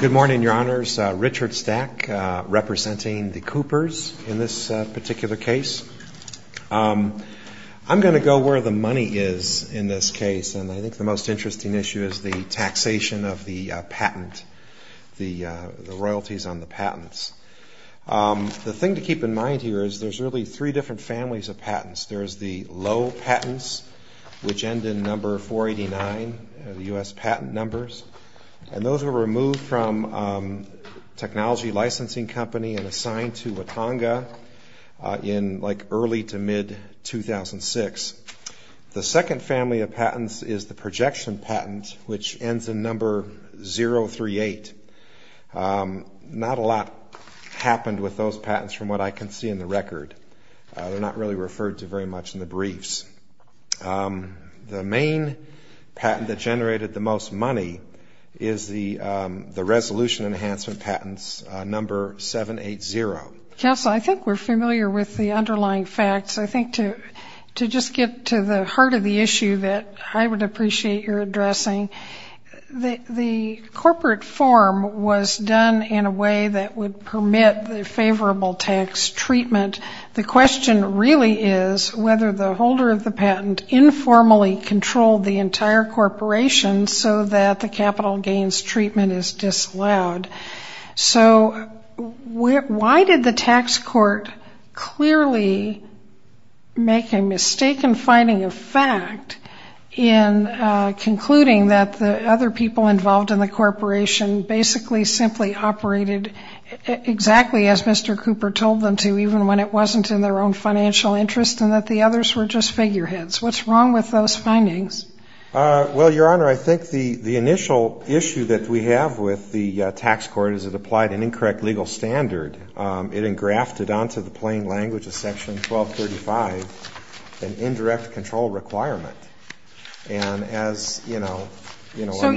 Good morning, your honors. Richard Stack, representing the Coopers in this particular case. I'm going to go where the money is in this case, and I think the most interesting issue is the taxation of the patent, the royalties on the patents. The thing to keep in mind here is there's really three different families of patents. There's the low patents, which end in number 489, the U.S. patent numbers, and those were removed from Technology Licensing Company and assigned to Watonga in like early to mid-2006. The second family of patents is the projection patent, which ends in number 038. Not a lot happened with those patents from what I can see in the record. They're not really referred to very much in the briefs. The main patent that generated the most money is the resolution enhancement patents, number 780. Counsel, I think we're familiar with the underlying facts. I think to just get to the heart of the issue that I would appreciate your addressing, the corporate form was done in a way that would permit the favorable tax treatment. The question really is whether the holder of the patent informally controlled the entire corporation so that the capital gains treatment is disallowed. So why did the tax court clearly make a mistaken finding of fact in concluding that the other people involved in the corporation basically simply operated exactly as Mr. Cooper told them to even when it wasn't in their own financial interest and that the others were just figureheads? What's wrong with those findings? Well, Your Honor, I think the initial issue that we have with the tax court is it applied an incorrect legal standard. It engrafted onto the plain language of Section 1235 an indirect control requirement. And as, you know, you know I'm not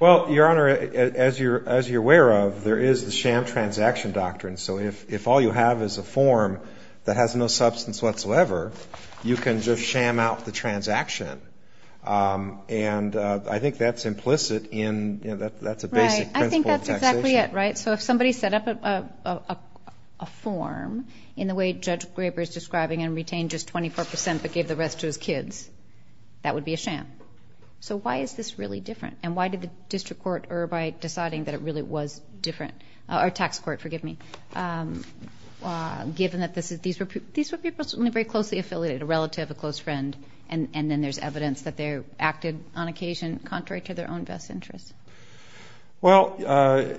Well, Your Honor, as you're aware of, there is the sham transaction doctrine. So if all you have is a form that has no substance whatsoever, you can just sham out the transaction. And I think that's implicit in, you know, that's a basic principle of taxation. Right. I think that's exactly it, right? So if somebody set up a form in the way Judge Graber is describing and retained just 24 percent but gave the rest to his kids, that would be a sham. So why is this really different? And why did the district court err by deciding that it really was different? Or tax court, forgive me. Given that these were people who were very closely affiliated, a relative, a close friend, and then there's evidence that they acted on occasion contrary to their own best interests? Well,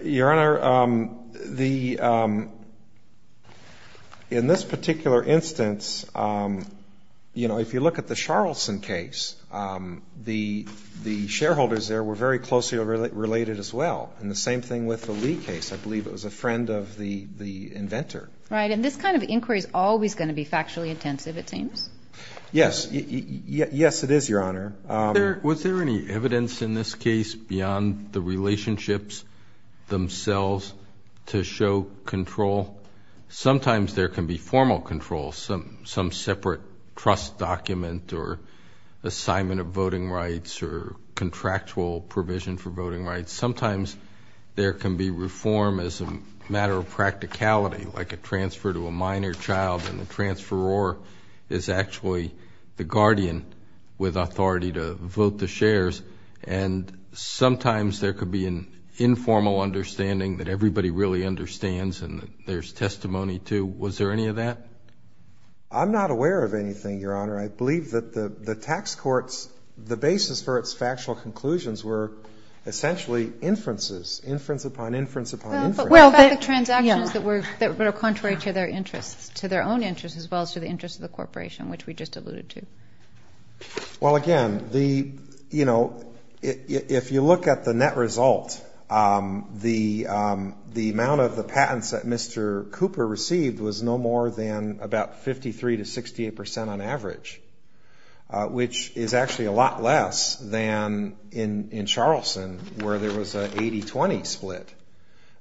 Your Honor, in this particular instance, you know, if you look at the Charlson case, the shareholders there were very closely related as well. And the same thing with the Lee case. I believe it was a friend of the inventor. Right. And this kind of inquiry is always going to be factually intensive, it seems. Yes. Yes, it is, Your Honor. Was there any evidence in this case beyond the relationships themselves to show control? Sometimes there can be formal control, some separate trust document or assignment of voting rights or contractual provision for voting rights. Sometimes there can be reform as a matter of practicality, like a transfer to a minor child and the transferor is actually the guardian with authority to vote the shares. And sometimes there could be an informal understanding that everybody really understands and there's testimony to. Was there any of that? I'm not aware of anything, Your Honor. I believe that the tax courts, the basis for its factual conclusions were essentially inferences, inference upon inference upon inference. Well, the transactions that were contrary to their interests, to their own interests as well as to the interests of the corporation, which we just alluded to. Well, again, if you look at the net result, the amount of the patents that Mr. Cooper received was no more than about 53 to 68 percent on average, which is actually a lot less than in Charleston where there was an 80-20 split.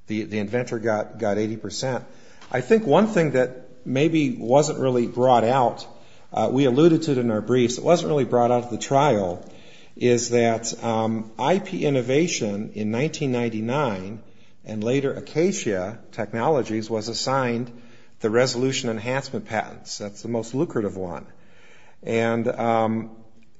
The inventor got 80 percent. I think one thing that maybe wasn't really brought out, we alluded to it in our briefs, it wasn't really brought out at the trial, is that IP Innovation in 1999 and later Acacia Technologies was assigned the resolution enhancement patents. That's the most lucrative one. And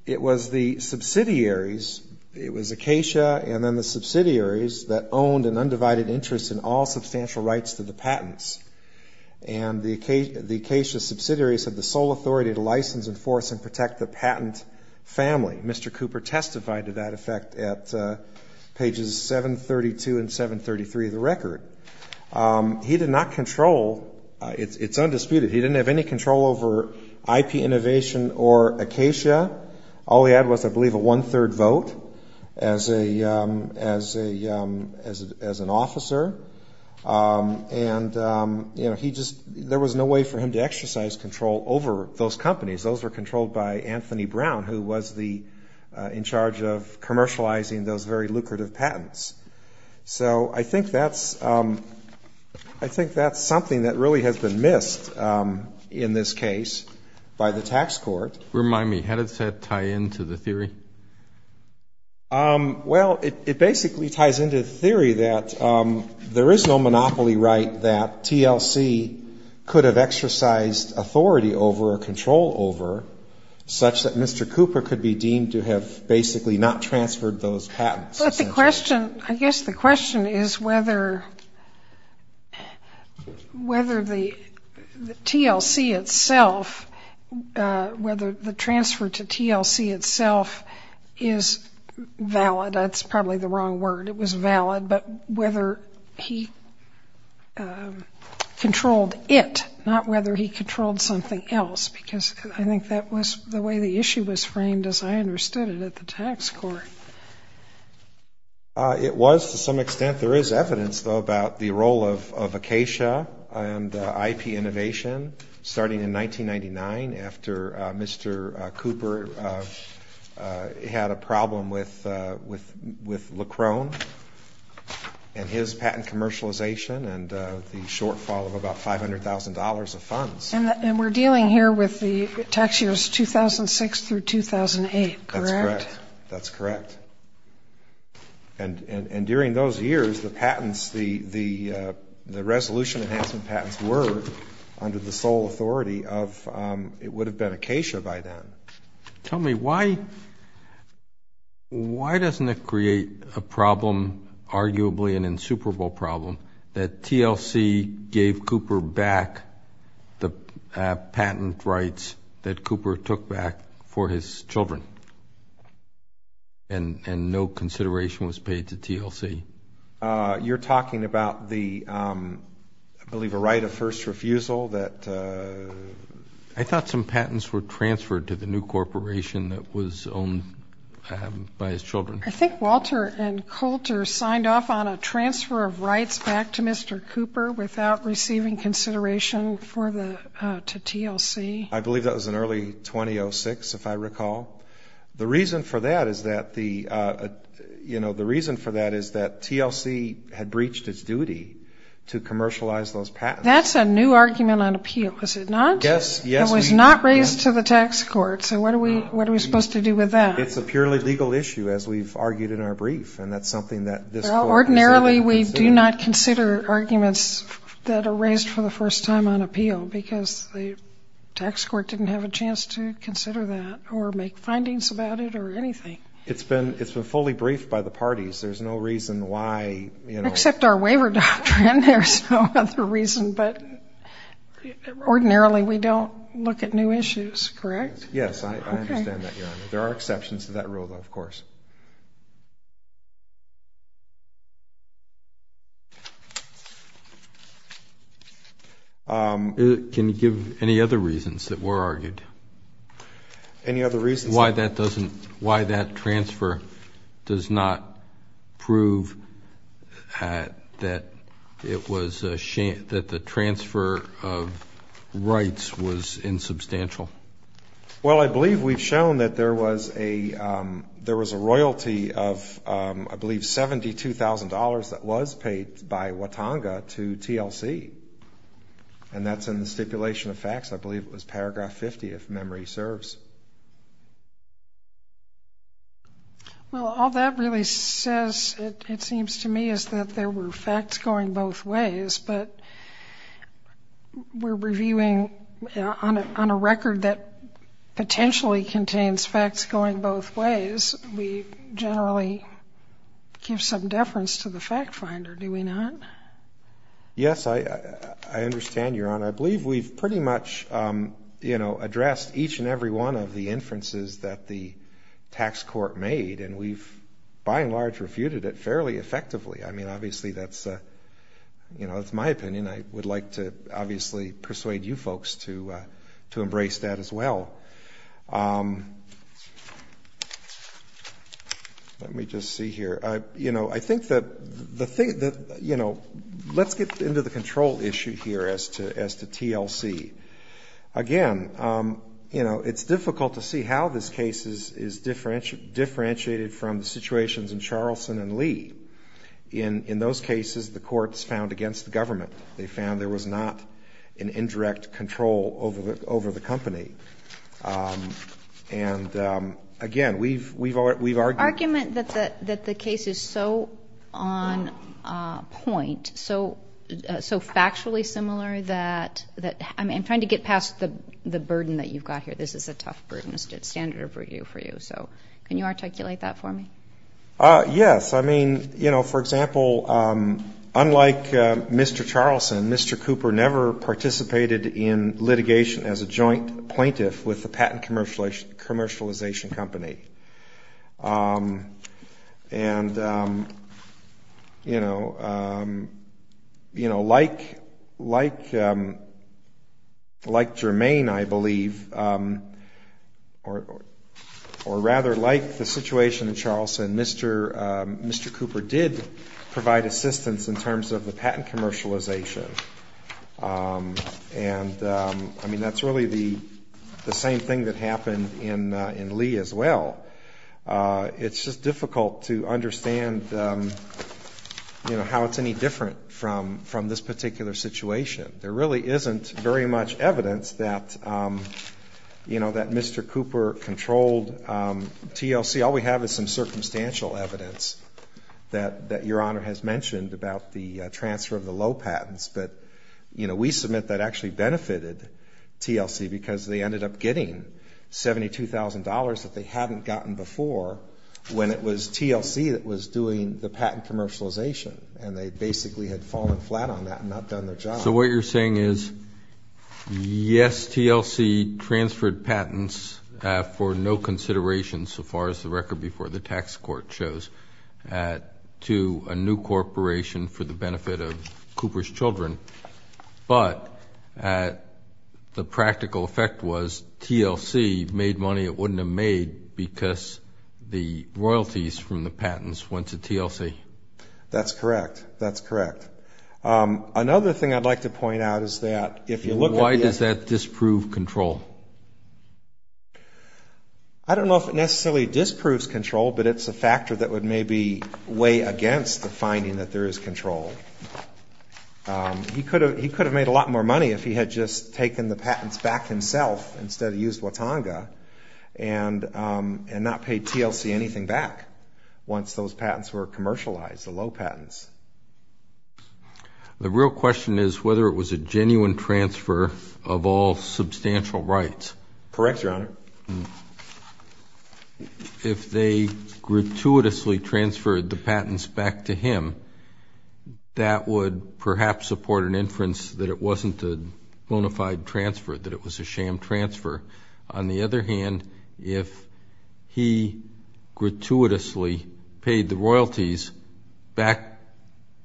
it was the subsidiaries, it was Acacia and then the subsidiaries that owned an undivided interest in all substantial rights to the patents. And the Acacia subsidiaries had the sole authority to license, enforce, and protect the patent family. Mr. Cooper testified to that effect at pages 732 and 733 of the record. He did not control, it's undisputed, he didn't have any control over IP Innovation or Acacia. All he had was, I believe, a one-third vote as an officer. And there was no way for him to exercise control over those companies. Those were controlled by Anthony Brown, who was in charge of commercializing those very lucrative patents. So I think that's something that really has been missed in this case by the tax court. Remind me, how does that tie into the theory? Well, it basically ties into the theory that there is no monopoly right that TLC could have exercised authority over or control over, such that Mr. Cooper could be deemed to have basically not transferred those patents. I guess the question is whether the TLC itself, whether the transfer to TLC itself is valid. That's probably the wrong word. It was valid, but whether he controlled it, not whether he controlled something else. Because I think that was the way the issue was framed as I understood it at the tax court. It was to some extent. There is evidence, though, about the role of Acacia and IP Innovation starting in 1999 after Mr. Cooper had a problem with Leckrone and his patent commercialization and the shortfall of about $500,000 of funds. And we're dealing here with the tax years 2006 through 2008, correct? That's correct. And during those years, the resolution enhancement patents were under the sole authority of, it would have been Acacia by then. Tell me, why doesn't it create a problem, arguably an insuperable problem, that TLC gave Cooper back the patent rights that Cooper took back for his children and no consideration was paid to TLC? You're talking about the, I believe, a right of first refusal? I thought some patents were transferred to the new corporation that was owned by his children. I think Walter and Coulter signed off on a transfer of rights back to Mr. Cooper without receiving consideration for the, to TLC. I believe that was in early 2006, if I recall. The reason for that is that the, you know, the reason for that is that TLC had breached its duty to commercialize those patents. That's a new argument on appeal, is it not? Yes, yes. It was not raised to the tax court, so what are we supposed to do with that? It's a purely legal issue, as we've argued in our brief, and that's something that this court has indeed considered. Well, ordinarily we do not consider arguments that are raised for the first time on appeal because the tax court didn't have a chance to consider that or make findings about it or anything. It's been fully briefed by the parties. There's no reason why, you know. Well, except our waiver doctrine, there's no other reason, but ordinarily we don't look at new issues, correct? Yes, I understand that, Your Honor. There are exceptions to that rule, though, of course. Can you give any other reasons that were argued? Any other reasons? Why that transfer does not prove that the transfer of rights was insubstantial. Well, I believe we've shown that there was a royalty of, I believe, $72,000 that was paid by Watonga to TLC, and that's in the stipulation of facts. I believe it was paragraph 50, if memory serves. Well, all that really says, it seems to me, is that there were facts going both ways, but we're reviewing on a record that potentially contains facts going both ways. We generally give some deference to the fact finder, do we not? Yes, I understand, Your Honor. And I believe we've pretty much, you know, addressed each and every one of the inferences that the tax court made, and we've, by and large, refuted it fairly effectively. I mean, obviously that's, you know, that's my opinion. I would like to, obviously, persuade you folks to embrace that as well. Let me just see here. You know, I think that, you know, let's get into the control issue here as to TLC. Again, you know, it's difficult to see how this case is differentiated from the situations in Charlson and Lee. In those cases, the courts found against the government. They found there was not an indirect control over the company. And, again, we've argued. Argument that the case is so on point, so factually similar that, I mean, I'm trying to get past the burden that you've got here. This is a tough burden. It's standard for you, so can you articulate that for me? Yes. I mean, you know, for example, unlike Mr. Charlson, Mr. Cooper never participated in litigation as a joint plaintiff with the patent commercialization company. And, you know, like Jermaine, I believe, or rather like the situation in Charlson, Mr. Cooper did provide assistance in terms of the patent commercialization. And, I mean, that's really the same thing that happened in Lee as well. It's just difficult to understand, you know, how it's any different from this particular situation. There really isn't very much evidence that, you know, that Mr. Cooper controlled TLC. All we have is some circumstantial evidence that Your Honor has mentioned about the transfer of the low patents. But, you know, we submit that actually benefited TLC because they ended up getting $72,000 that they hadn't gotten before when it was TLC that was doing the patent commercialization. And they basically had fallen flat on that and not done their job. So what you're saying is, yes, TLC transferred patents for no consideration so far as the record before the tax court shows to a new corporation for the benefit of Cooper's children. But the practical effect was TLC made money it wouldn't have made because the royalties from the patents went to TLC. That's correct. That's correct. Another thing I'd like to point out is that if you look at the… Why does that disprove control? I don't know if it necessarily disproves control, but it's a factor that would maybe weigh against the finding that there is control. He could have made a lot more money if he had just taken the patents back himself instead of used Watonga and not paid TLC anything back once those patents were commercialized, the low patents. The real question is whether it was a genuine transfer of all substantial rights. Correct, Your Honor. If they gratuitously transferred the patents back to him, that would perhaps support an inference that it wasn't a bona fide transfer, that it was a sham transfer. On the other hand, if he gratuitously paid the royalties back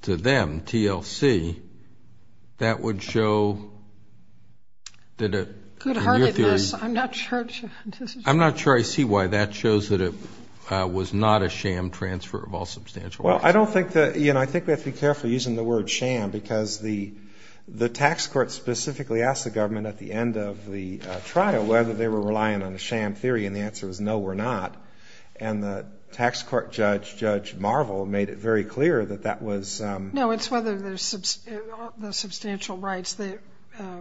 to them, TLC, that would show that it… Good heartedness. I'm not sure I see why that shows that it was not a sham transfer of all substantial rights. I think we have to be careful using the word sham because the tax court specifically asked the government at the end of the trial whether they were relying on a sham theory, and the answer was no, we're not. And the tax court judge, Judge Marvel, made it very clear that that was… No, it's whether the substantial rights, the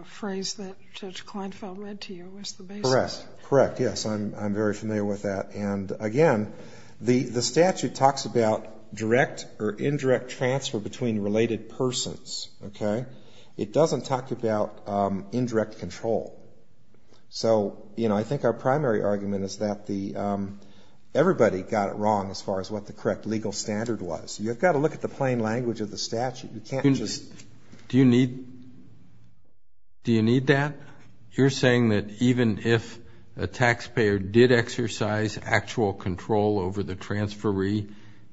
phrase that Judge Kleinfeld led to, was the basis. Correct, yes. I'm very familiar with that. And, again, the statute talks about direct or indirect transfer between related persons, okay? It doesn't talk about indirect control. So, you know, I think our primary argument is that everybody got it wrong as far as what the correct legal standard was. You've got to look at the plain language of the statute. You can't just… Do you need that? You're saying that even if a taxpayer did exercise actual control over the transferee,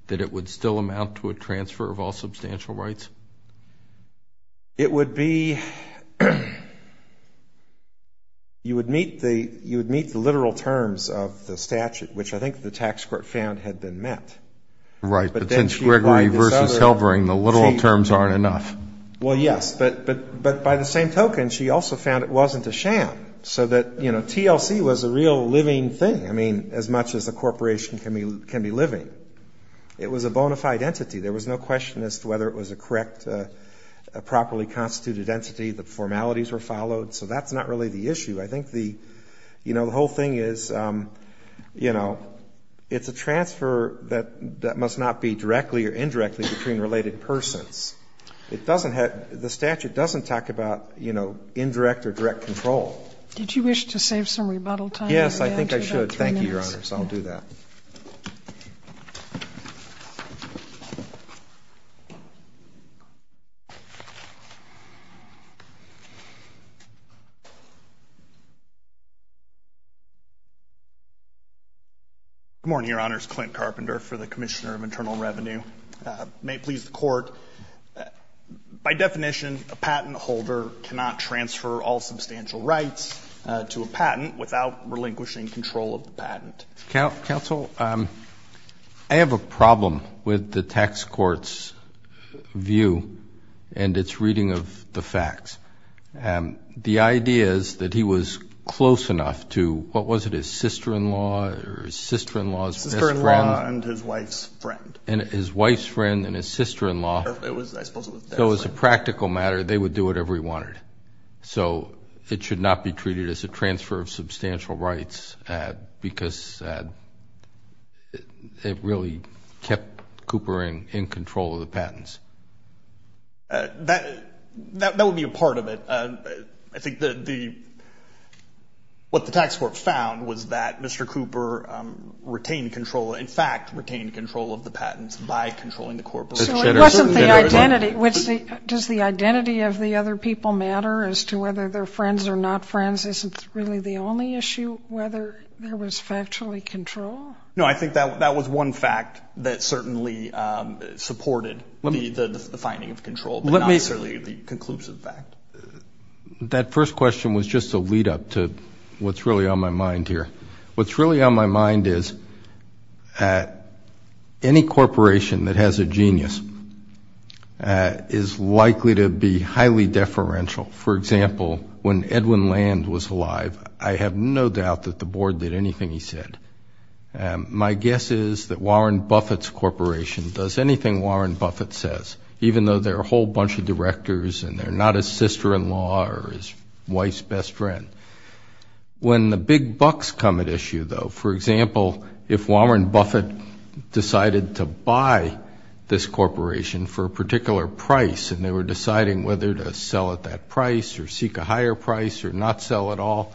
that it would still amount to a transfer of all substantial rights? It would be… You would meet the literal terms of the statute, which I think the tax court found had been met. Right, but since Gregory v. Helbring, the literal terms aren't enough. Well, yes, but by the same token, she also found it wasn't a sham, so that, you know, TLC was a real living thing. I mean, as much as a corporation can be living, it was a bona fide entity. There was no question as to whether it was a correct, a properly constituted entity, the formalities were followed. So that's not really the issue. I think the, you know, the whole thing is, you know, it's a transfer that must not be directly or indirectly between related persons. It doesn't have – the statute doesn't talk about, you know, indirect or direct control. Did you wish to save some rebuttal time? Yes, I think I should. Thank you, Your Honors. I'll do that. Good morning, Your Honors. Clint Carpenter for the Commissioner of Internal Revenue. May it please the Court, by definition, a patent holder cannot transfer all substantial rights to a patent without relinquishing control of the patent. Counsel, I have a problem with the tax court's view and its reading of the facts. The idea is that he was close enough to, what was it, his sister-in-law or his sister-in-law's best friend? Sister-in-law and his wife's friend. And his wife's friend and his sister-in-law. So as a practical matter, they would do whatever he wanted. So it should not be treated as a transfer of substantial rights because it really kept Cooper in control of the patents. That would be a part of it. I think what the tax court found was that Mr. Cooper retained control, in fact, retained control of the patents by controlling the corporation. So it wasn't the identity. Does the identity of the other people matter as to whether they're friends or not friends? Isn't really the only issue whether there was factually control? No, I think that was one fact that certainly supported the finding of control, but not necessarily the conclusive fact. That first question was just a lead-up to what's really on my mind here. What's really on my mind is any corporation that has a genius is likely to be highly deferential. For example, when Edwin Land was alive, I have no doubt that the board did anything he said. My guess is that Warren Buffett's corporation does anything Warren Buffett says, even though they're a whole bunch of directors and they're not his sister-in-law or his wife's best friend. When the big bucks come at issue, though, for example, if Warren Buffett decided to buy this corporation for a particular price and they were deciding whether to sell at that price or seek a higher price or not sell at all,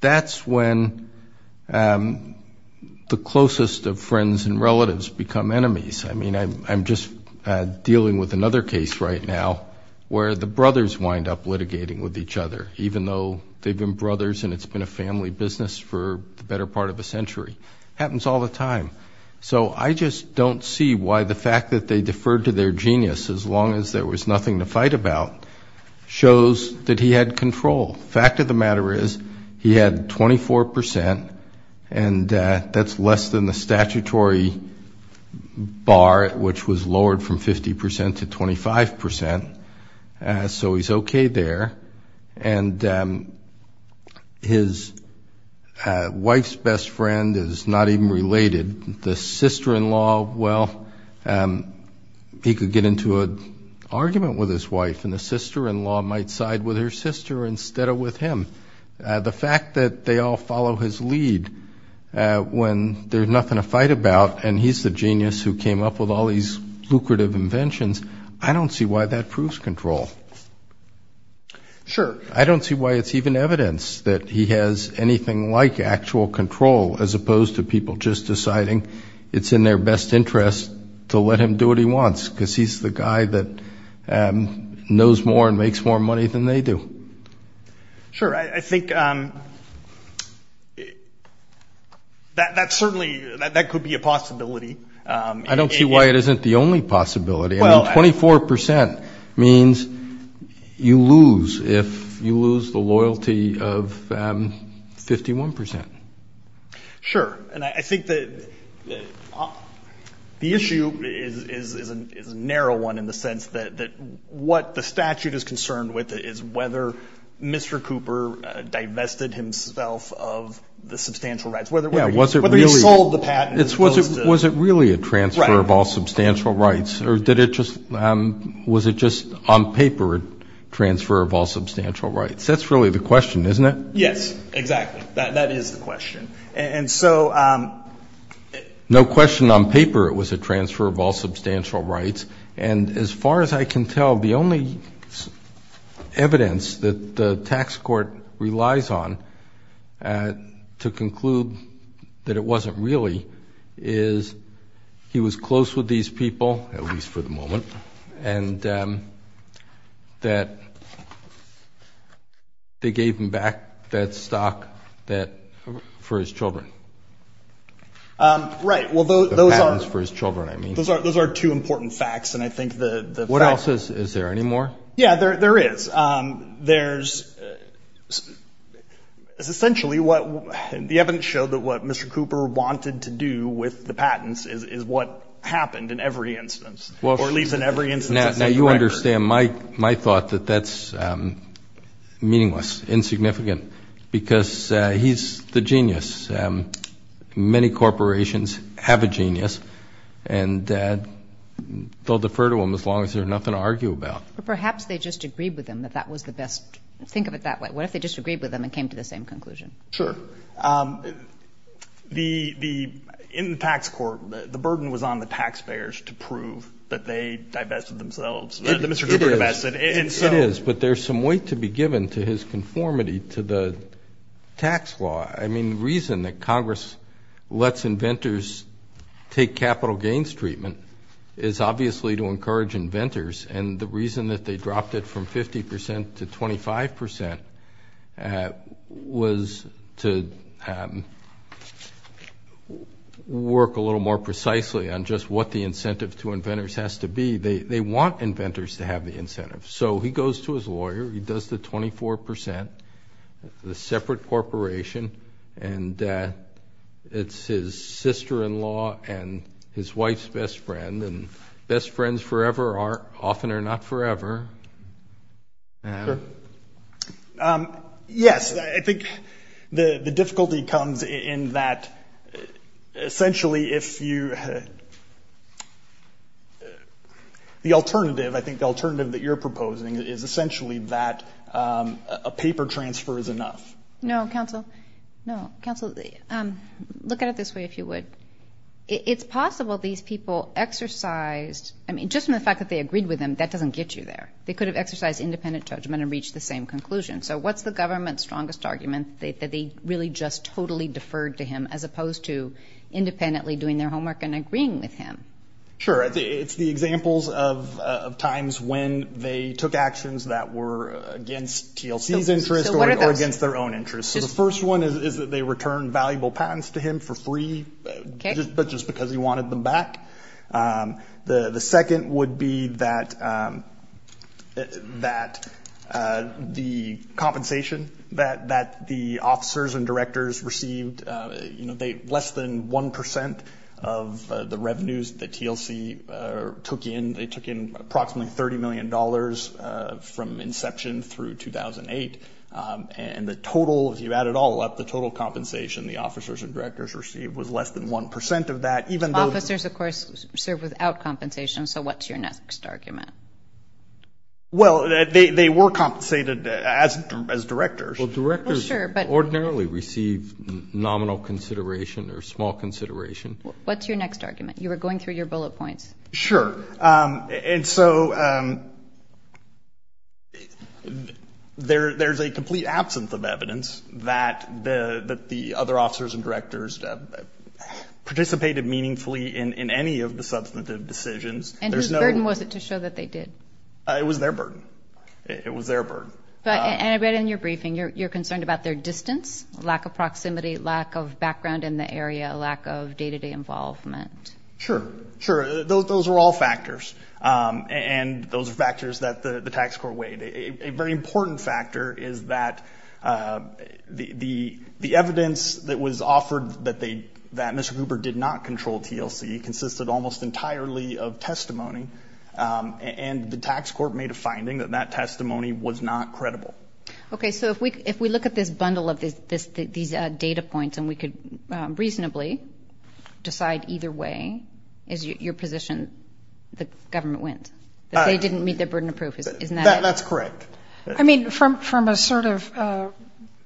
that's when the closest of friends and relatives become enemies. I mean, I'm just dealing with another case right now where the brothers wind up litigating with each other, even though they've been brothers and it's been a family business for the better part of a century. Happens all the time. So I just don't see why the fact that they deferred to their genius as long as there was nothing to fight about shows that he had control. Fact of the matter is he had 24 percent, and that's less than the statutory bar, which was lowered from 50 percent to 25 percent. So he's okay there. And his wife's best friend is not even related. The sister-in-law, well, he could get into an argument with his wife and the sister-in-law might side with her sister instead of with him. The fact that they all follow his lead when there's nothing to fight about and he's the genius who came up with all these lucrative inventions, I don't see why that proves control. Sure. I don't see why it's even evidence that he has anything like actual control, as opposed to people just deciding it's in their best interest to let him do what he wants, because he's the guy that knows more and makes more money than they do. Sure. I think that certainly could be a possibility. I don't see why it isn't the only possibility. I mean, 24 percent means you lose if you lose the loyalty of 51 percent. Sure. And I think that the issue is a narrow one in the sense that what the statute is concerned with is whether Mr. Cooper divested himself of the substantial rights, whether he sold the patent. Was it really a transfer of all substantial rights? Right. Or was it just on paper a transfer of all substantial rights? That's really the question, isn't it? Yes, exactly. That is the question. And so no question on paper it was a transfer of all substantial rights. And as far as I can tell, the only evidence that the tax court relies on to conclude that it wasn't really is he was close with these people, at least for the moment, and that they gave him back that stock for his children. Right. The patents for his children, I mean. Those are two important facts, and I think the facts— What else? Is there any more? Yeah, there is. There's essentially what—the evidence showed that what Mr. Cooper wanted to do with the patents is what happened in every instance, or at least in every instance— Now, you understand my thought that that's meaningless, insignificant, because he's the genius. Many corporations have a genius, and they'll defer to him as long as there's nothing to argue about. But perhaps they just agreed with him that that was the best—think of it that way. What if they just agreed with him and came to the same conclusion? Sure. In the tax court, the burden was on the taxpayers to prove that they divested themselves, that Mr. Cooper divested. It is, but there's some weight to be given to his conformity to the tax law. I mean, the reason that Congress lets inventors take capital gains treatment is obviously to encourage inventors, and the reason that they dropped it from 50% to 25% was to work a little more precisely on just what the incentive to inventors has to be. They want inventors to have the incentive. So he goes to his lawyer. He does the 24%, the separate corporation, and it's his sister-in-law and his wife's best friend, and best friends forever often are not forever. Sure. Yes, I think the difficulty comes in that essentially if you—the alternative, I think, the alternative that you're proposing is essentially that a paper transfer is enough. No, counsel. No, counsel, look at it this way, if you would. It's possible these people exercised—I mean, just from the fact that they agreed with him, that doesn't get you there. They could have exercised independent judgment and reached the same conclusion. So what's the government's strongest argument, that they really just totally deferred to him as opposed to independently doing their homework and agreeing with him? Sure. It's the examples of times when they took actions that were against TLC's interests or against their own interests. So the first one is that they returned valuable patents to him for free, but just because he wanted them back. The second would be that the compensation that the officers and directors received, less than 1% of the revenues that TLC took in, they took in approximately $30 million from inception through 2008, and the total, if you add it all up, the total compensation the officers and directors received was less than 1% of that, even though— Officers, of course, serve without compensation, so what's your next argument? Well, they were compensated as directors. Well, directors ordinarily receive nominal consideration or small consideration. What's your next argument? You were going through your bullet points. Sure, and so there's a complete absence of evidence that the other officers and directors participated meaningfully in any of the substantive decisions. And whose burden was it to show that they did? It was their burden. It was their burden. And I read in your briefing you're concerned about their distance, lack of proximity, lack of background in the area, lack of day-to-day involvement. Sure, sure. Those are all factors, and those are factors that the tax court weighed. A very important factor is that the evidence that was offered that Mr. Cooper did not control TLC consisted almost entirely of testimony, and the tax court made a finding that that testimony was not credible. Okay, so if we look at this bundle of these data points and we could reasonably decide either way, is your position the government wins? That they didn't meet their burden of proof, isn't that it? That's correct. I mean, from a sort of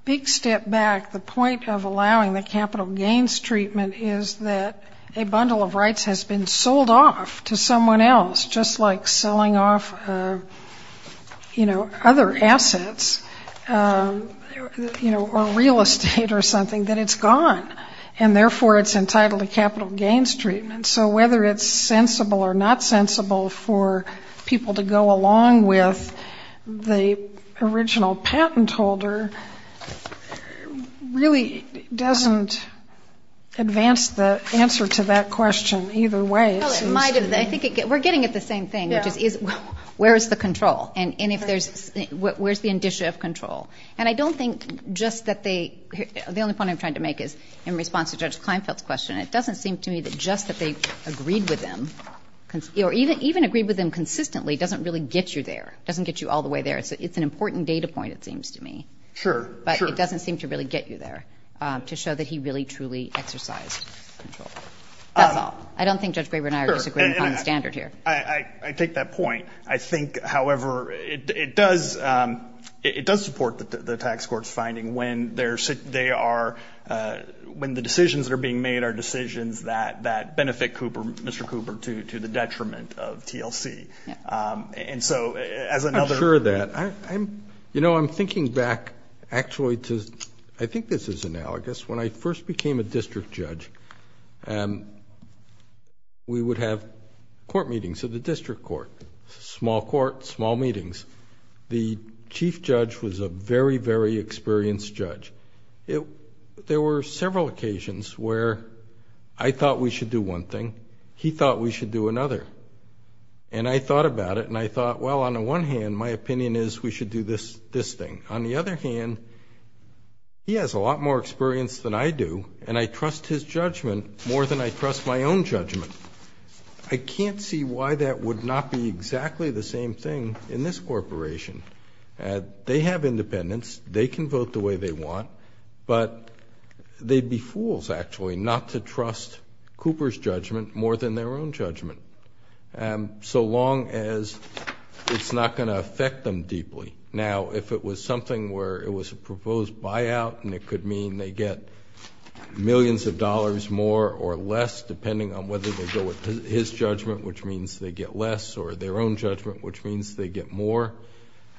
big step back, the point of allowing the capital gains treatment is that a bundle of rights has been sold off to someone else, just like selling off, you know, other assets, you know, or real estate or something, that it's gone, and therefore it's entitled to capital gains treatment. So whether it's sensible or not sensible for people to go along with the original patent holder really doesn't advance the answer to that question either way. Well, it might have been. I think we're getting at the same thing, which is where is the control? And if there's – where's the indicia of control? And I don't think just that they – the only point I'm trying to make is in response to Judge Kleinfeld's question, it doesn't seem to me that just that they agreed with him or even agreed with him consistently doesn't really get you there, doesn't get you all the way there. It's an important data point, it seems to me. Sure, sure. But it doesn't seem to really get you there to show that he really, truly exercised control. That's all. I don't think Judge Graber and I are disagreeing upon the standard here. I take that point. I think, however, it does support the tax court's finding when they are – when the decisions that are being made are decisions that benefit Cooper, Mr. Cooper, to the detriment of TLC. And so as another – I'm sure of that. You know, I'm thinking back actually to – I think this is analogous. When I first became a district judge, we would have court meetings at the district court, small court, small meetings. The chief judge was a very, very experienced judge. There were several occasions where I thought we should do one thing, he thought we should do another. And I thought about it and I thought, well, on the one hand, my opinion is we should do this thing. On the other hand, he has a lot more experience than I do, and I trust his judgment more than I trust my own judgment. I can't see why that would not be exactly the same thing in this corporation. They have independence. They can vote the way they want, but they'd be fools actually not to trust Cooper's judgment more than their own judgment, so long as it's not going to affect them deeply. Now, if it was something where it was a proposed buyout and it could mean they get millions of dollars more or less, depending on whether they go with his judgment, which means they get less, or their own judgment, which means they get more,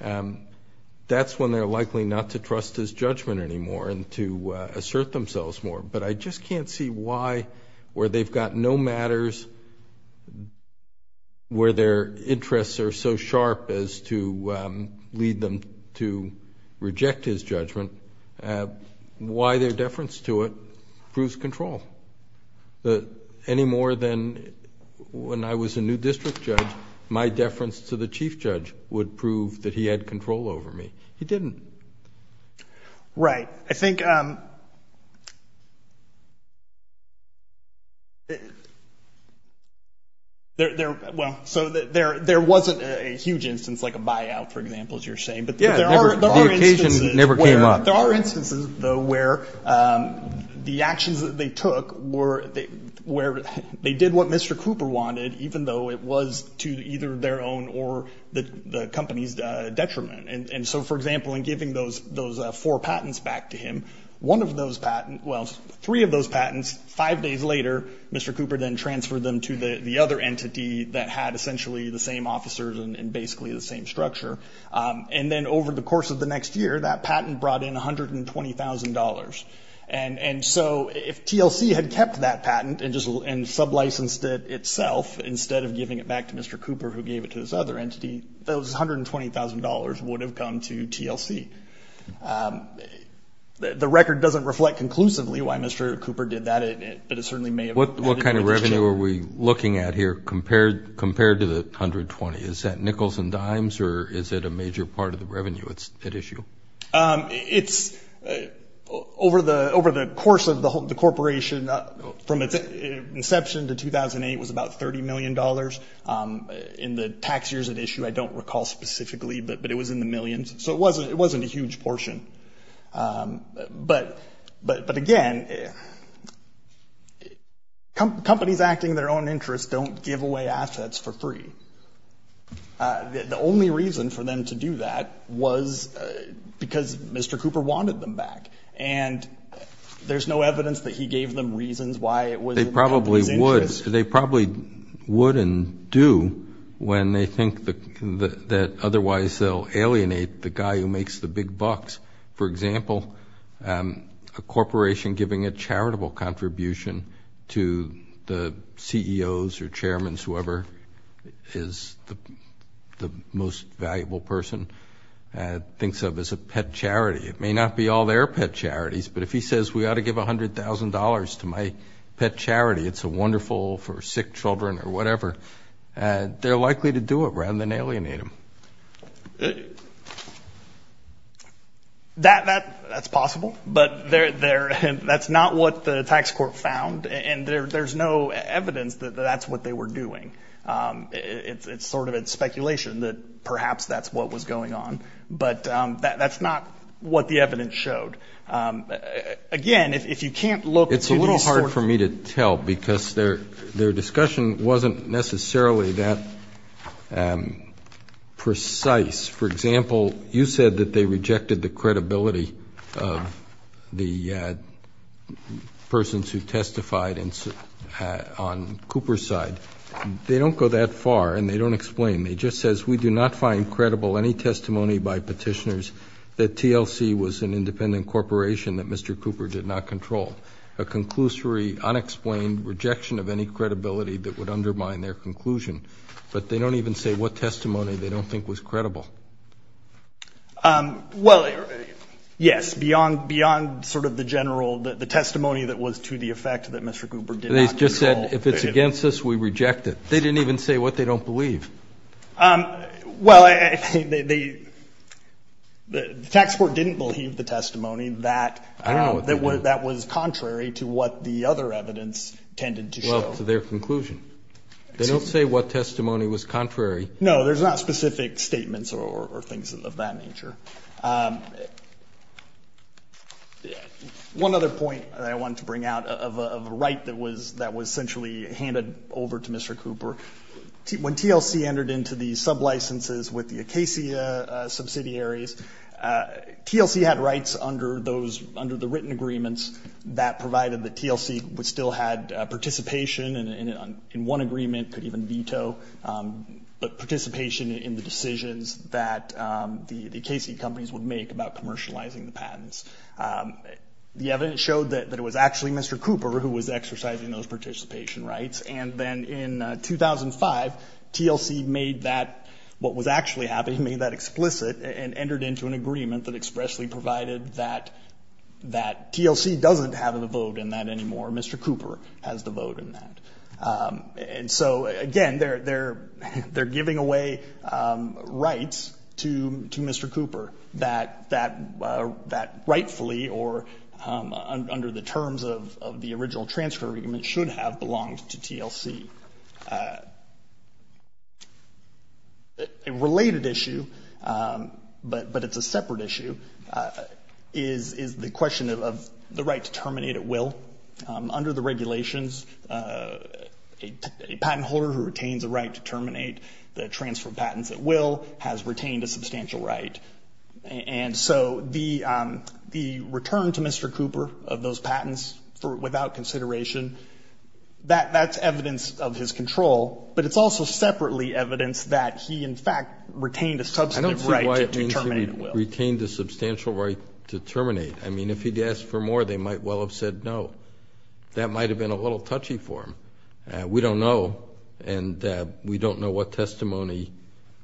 that's when they're likely not to trust his judgment anymore and to assert themselves more. But I just can't see why, where they've got no matters, where their interests are so sharp as to lead them to reject his judgment, why their deference to it proves control any more than when I was a new district judge, my deference to the chief judge would prove that he had control over me. He didn't. Right. I think there wasn't a huge instance like a buyout, for example, as you're saying. Yeah, the occasion never came up. There are instances, though, where the actions that they took were they did what Mr. Cooper wanted, even though it was to either their own or the company's detriment. And so, for example, in giving those four patents back to him, one of those patents, well, three of those patents, five days later Mr. Cooper then transferred them to the other entity that had essentially the same officers and basically the same structure, and then over the course of the next year that patent brought in $120,000. And so if TLC had kept that patent and sublicensed it itself instead of giving it back to Mr. Cooper, who gave it to this other entity, those $120,000 would have come to TLC. The record doesn't reflect conclusively why Mr. Cooper did that, but it certainly may have. What kind of revenue are we looking at here compared to the $120,000? Is that nickels and dimes or is it a major part of the revenue at issue? It's over the course of the corporation from its inception to 2008 was about $30 million. In the tax years at issue, I don't recall specifically, but it was in the millions. So it wasn't a huge portion. But, again, companies acting in their own interest don't give away assets for free. The only reason for them to do that was because Mr. Cooper wanted them back. And there's no evidence that he gave them reasons why it was in their interest. They probably wouldn't do when they think that otherwise they'll alienate the guy who makes the big bucks. For example, a corporation giving a charitable contribution to the CEOs or chairmen, whoever is the most valuable person, thinks of as a pet charity. It may not be all their pet charities, but if he says, we ought to give $100,000 to my pet charity, it's wonderful for sick children or whatever, they're likely to do it rather than alienate him. That's possible, but that's not what the tax court found. And there's no evidence that that's what they were doing. It's sort of speculation that perhaps that's what was going on. But that's not what the evidence showed. Again, if you can't look at these stories. It's hard for me to tell because their discussion wasn't necessarily that precise. For example, you said that they rejected the credibility of the persons who testified on Cooper's side. They don't go that far, and they don't explain. They just says, we do not find credible any testimony by petitioners that TLC was an independent corporation that Mr. Cooper did not control. A conclusory, unexplained rejection of any credibility that would undermine their conclusion. But they don't even say what testimony they don't think was credible. Well, yes, beyond sort of the testimony that was to the effect that Mr. Cooper did not control. They just said, if it's against us, we reject it. They didn't even say what they don't believe. Well, the tax court didn't believe the testimony that was contrary to what the other evidence tended to show. Well, to their conclusion. They don't say what testimony was contrary. No, there's not specific statements or things of that nature. One other point that I wanted to bring out of a right that was essentially handed over to Mr. Cooper. When TLC entered into the sublicenses with the Acacia subsidiaries, TLC had rights under the written agreements that provided that TLC still had participation in one agreement, could even veto, but participation in the decisions that the Acacia companies would make about commercializing the patents. The evidence showed that it was actually Mr. Cooper who was exercising those participation rights. And then in 2005, TLC made that, what was actually happening, made that explicit and entered into an agreement that expressly provided that TLC doesn't have the vote in that anymore. Mr. Cooper has the vote in that. And so, again, they're giving away rights to Mr. Cooper that rightfully, or under the terms of the original transfer agreement, should have belonged to TLC. A related issue, but it's a separate issue, is the question of the right to terminate at will. Under the regulations, a patent holder who retains a right to terminate the transfer of patents at will has retained a substantial right. And so the return to Mr. Cooper of those patents without consideration, that's evidence of his control, but it's also separately evidence that he, in fact, retained a substantive right to terminate at will. I don't see why it means he retained a substantial right to terminate. I mean, if he'd asked for more, they might well have said no. That might have been a little touchy for him. We don't know. And we don't know what testimony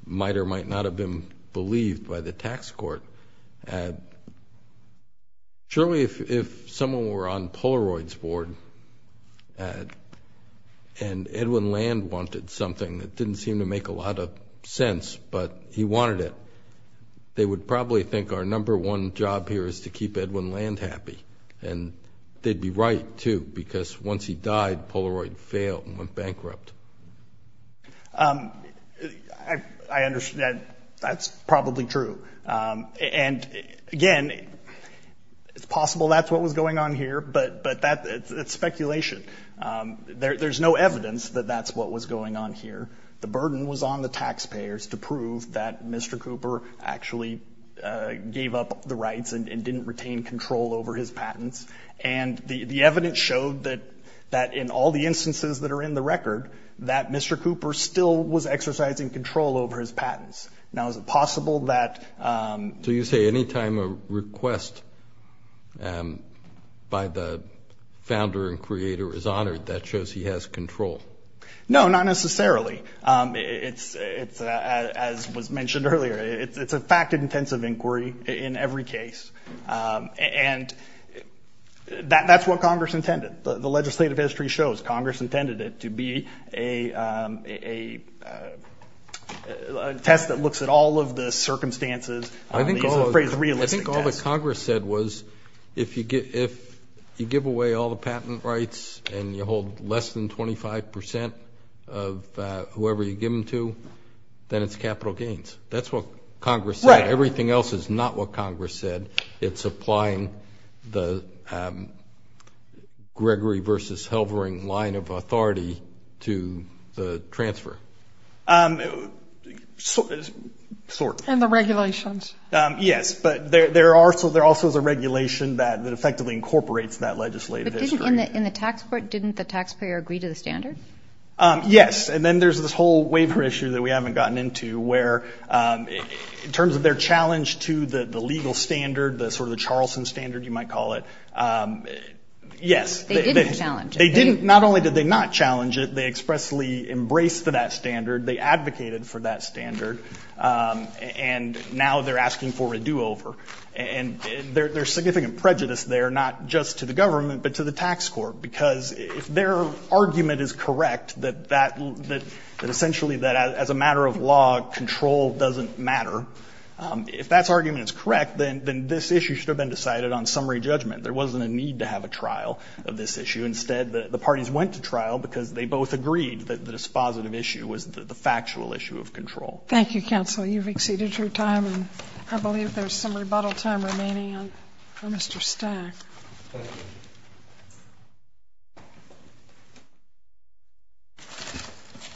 might or might not have been believed by the tax court. Surely, if someone were on Polaroid's board and Edwin Land wanted something that didn't seem to make a lot of sense, but he wanted it, they would probably think our number one job here is to keep Edwin Land happy. And they'd be right, too, because once he died, Polaroid failed and went bankrupt. I understand. That's probably true. And, again, it's possible that's what was going on here, but that's speculation. There's no evidence that that's what was going on here. The burden was on the taxpayers to prove that Mr. Cooper actually gave up the rights and didn't retain control over his patents. And the evidence showed that in all the instances that are in the record, that Mr. Cooper still was exercising control over his patents. Now, is it possible that ---- So you say any time a request by the founder and creator is honored, that shows he has control? No, not necessarily. As was mentioned earlier, it's a fact-intensive inquiry in every case. And that's what Congress intended. The legislative history shows Congress intended it to be a test that looks at all of the circumstances. I think all that Congress said was if you give away all the patent rights and you hold less than 25 percent of whoever you give them to, then it's capital gains. That's what Congress said. Everything else is not what Congress said. It's applying the Gregory versus Helvering line of authority to the transfer. And the regulations. Yes, but there also is a regulation that effectively incorporates that legislative history. In the tax court, didn't the taxpayer agree to the standard? Yes. And then there's this whole waiver issue that we haven't gotten into, where in terms of their challenge to the legal standard, the sort of the Charlson standard you might call it, yes. They didn't challenge it. They didn't. Not only did they not challenge it, they expressly embraced that standard. They advocated for that standard. And now they're asking for a do-over. And there's significant prejudice there, not just to the government, but to the tax court. Because if their argument is correct, that essentially that as a matter of law, control doesn't matter, if that argument is correct, then this issue should have been decided on summary judgment. There wasn't a need to have a trial of this issue. Instead, the parties went to trial because they both agreed that this positive issue was the factual issue of control. Thank you, counsel. You've exceeded your time. I believe there's some rebuttal time remaining for Mr. Stack. Thank you.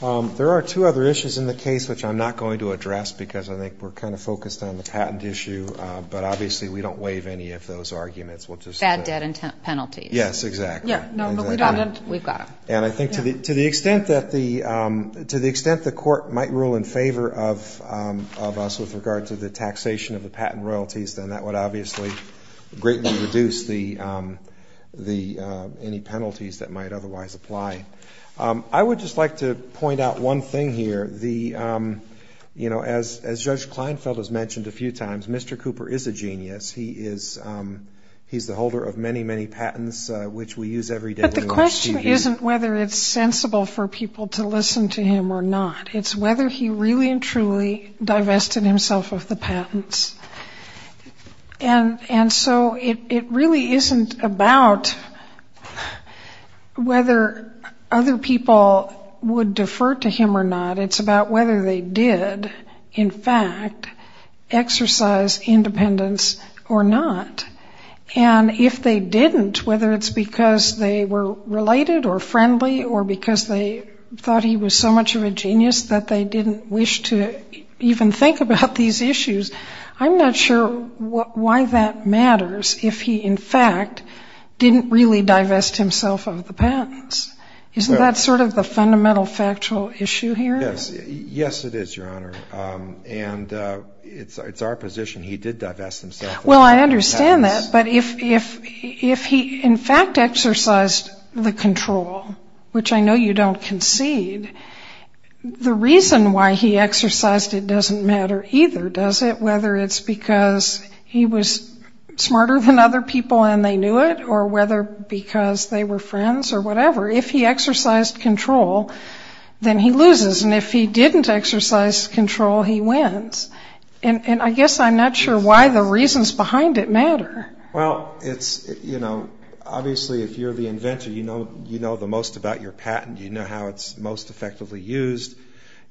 There are two other issues in the case which I'm not going to address, because I think we're kind of focused on the patent issue. But obviously we don't waive any of those arguments. Bad debt and penalties. Yes, exactly. No, but we've got them. And I think to the extent that the court might rule in favor of us with regard to the taxation of the patent royalties, then that would obviously greatly reduce any penalties that might otherwise apply. I would just like to point out one thing here. As Judge Kleinfeld has mentioned a few times, Mr. Cooper is a genius. He's the holder of many, many patents which we use every day when we watch TV. The question isn't whether it's sensible for people to listen to him or not. It's whether he really and truly divested himself of the patents. And so it really isn't about whether other people would defer to him or not. It's about whether they did, in fact, exercise independence or not. And if they didn't, whether it's because they were related or friendly or because they thought he was so much of a genius that they didn't wish to even think about these issues, I'm not sure why that matters if he, in fact, didn't really divest himself of the patents. Isn't that sort of the fundamental factual issue here? Yes. Yes, it is, Your Honor. Well, I understand that. But if he, in fact, exercised the control, which I know you don't concede, the reason why he exercised it doesn't matter either, does it, whether it's because he was smarter than other people and they knew it or whether because they were friends or whatever. If he exercised control, then he loses. And if he didn't exercise control, he wins. And I guess I'm not sure why the reasons behind it matter. Well, obviously, if you're the inventor, you know the most about your patent. You know how it's most effectively used.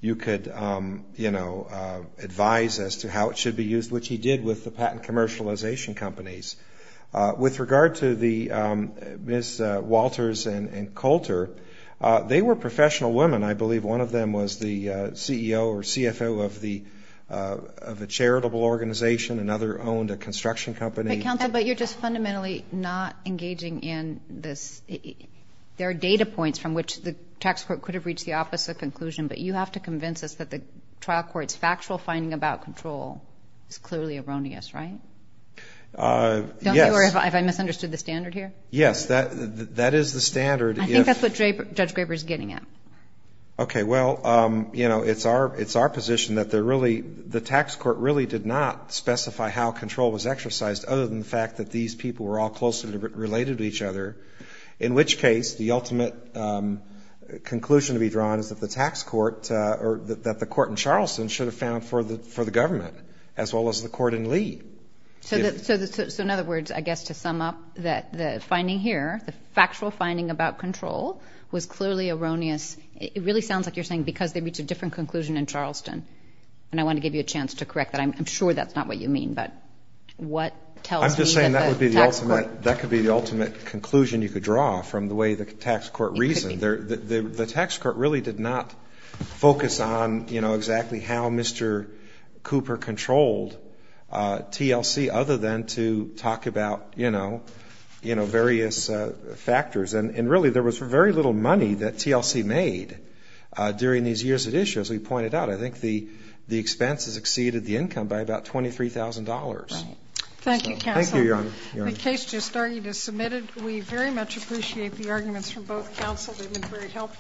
You could advise as to how it should be used, which he did with the patent commercialization companies. With regard to Ms. Walters and Coulter, they were professional women. I believe one of them was the CEO or CFO of a charitable organization. Another owned a construction company. Counsel, but you're just fundamentally not engaging in this. There are data points from which the tax court could have reached the opposite conclusion, but you have to convince us that the trial court's factual finding about control is clearly erroneous, right? Yes. Don't you worry if I misunderstood the standard here? Yes, that is the standard. I think that's what Judge Graber is getting at. Okay. Well, you know, it's our position that the tax court really did not specify how control was exercised, other than the fact that these people were all closely related to each other, in which case the ultimate conclusion to be drawn is that the tax court or that the court in Charleston should have found for the government, as well as the court in Lee. So in other words, I guess to sum up the finding here, the factual finding about control was clearly erroneous. It really sounds like you're saying because they reached a different conclusion in Charleston, and I want to give you a chance to correct that. I'm sure that's not what you mean, but what tells me that the tax court. I'm just saying that could be the ultimate conclusion you could draw from the way the tax court reasoned. The tax court really did not focus on, you know, exactly how Mr. Cooper controlled TLC, other than to talk about, you know, various factors. And really there was very little money that TLC made during these years at issue, as we pointed out. I think the expenses exceeded the income by about $23,000. Thank you, counsel. Thank you, Your Honor. The case just started as submitted. We very much appreciate the arguments from both counsel. They've been very helpful.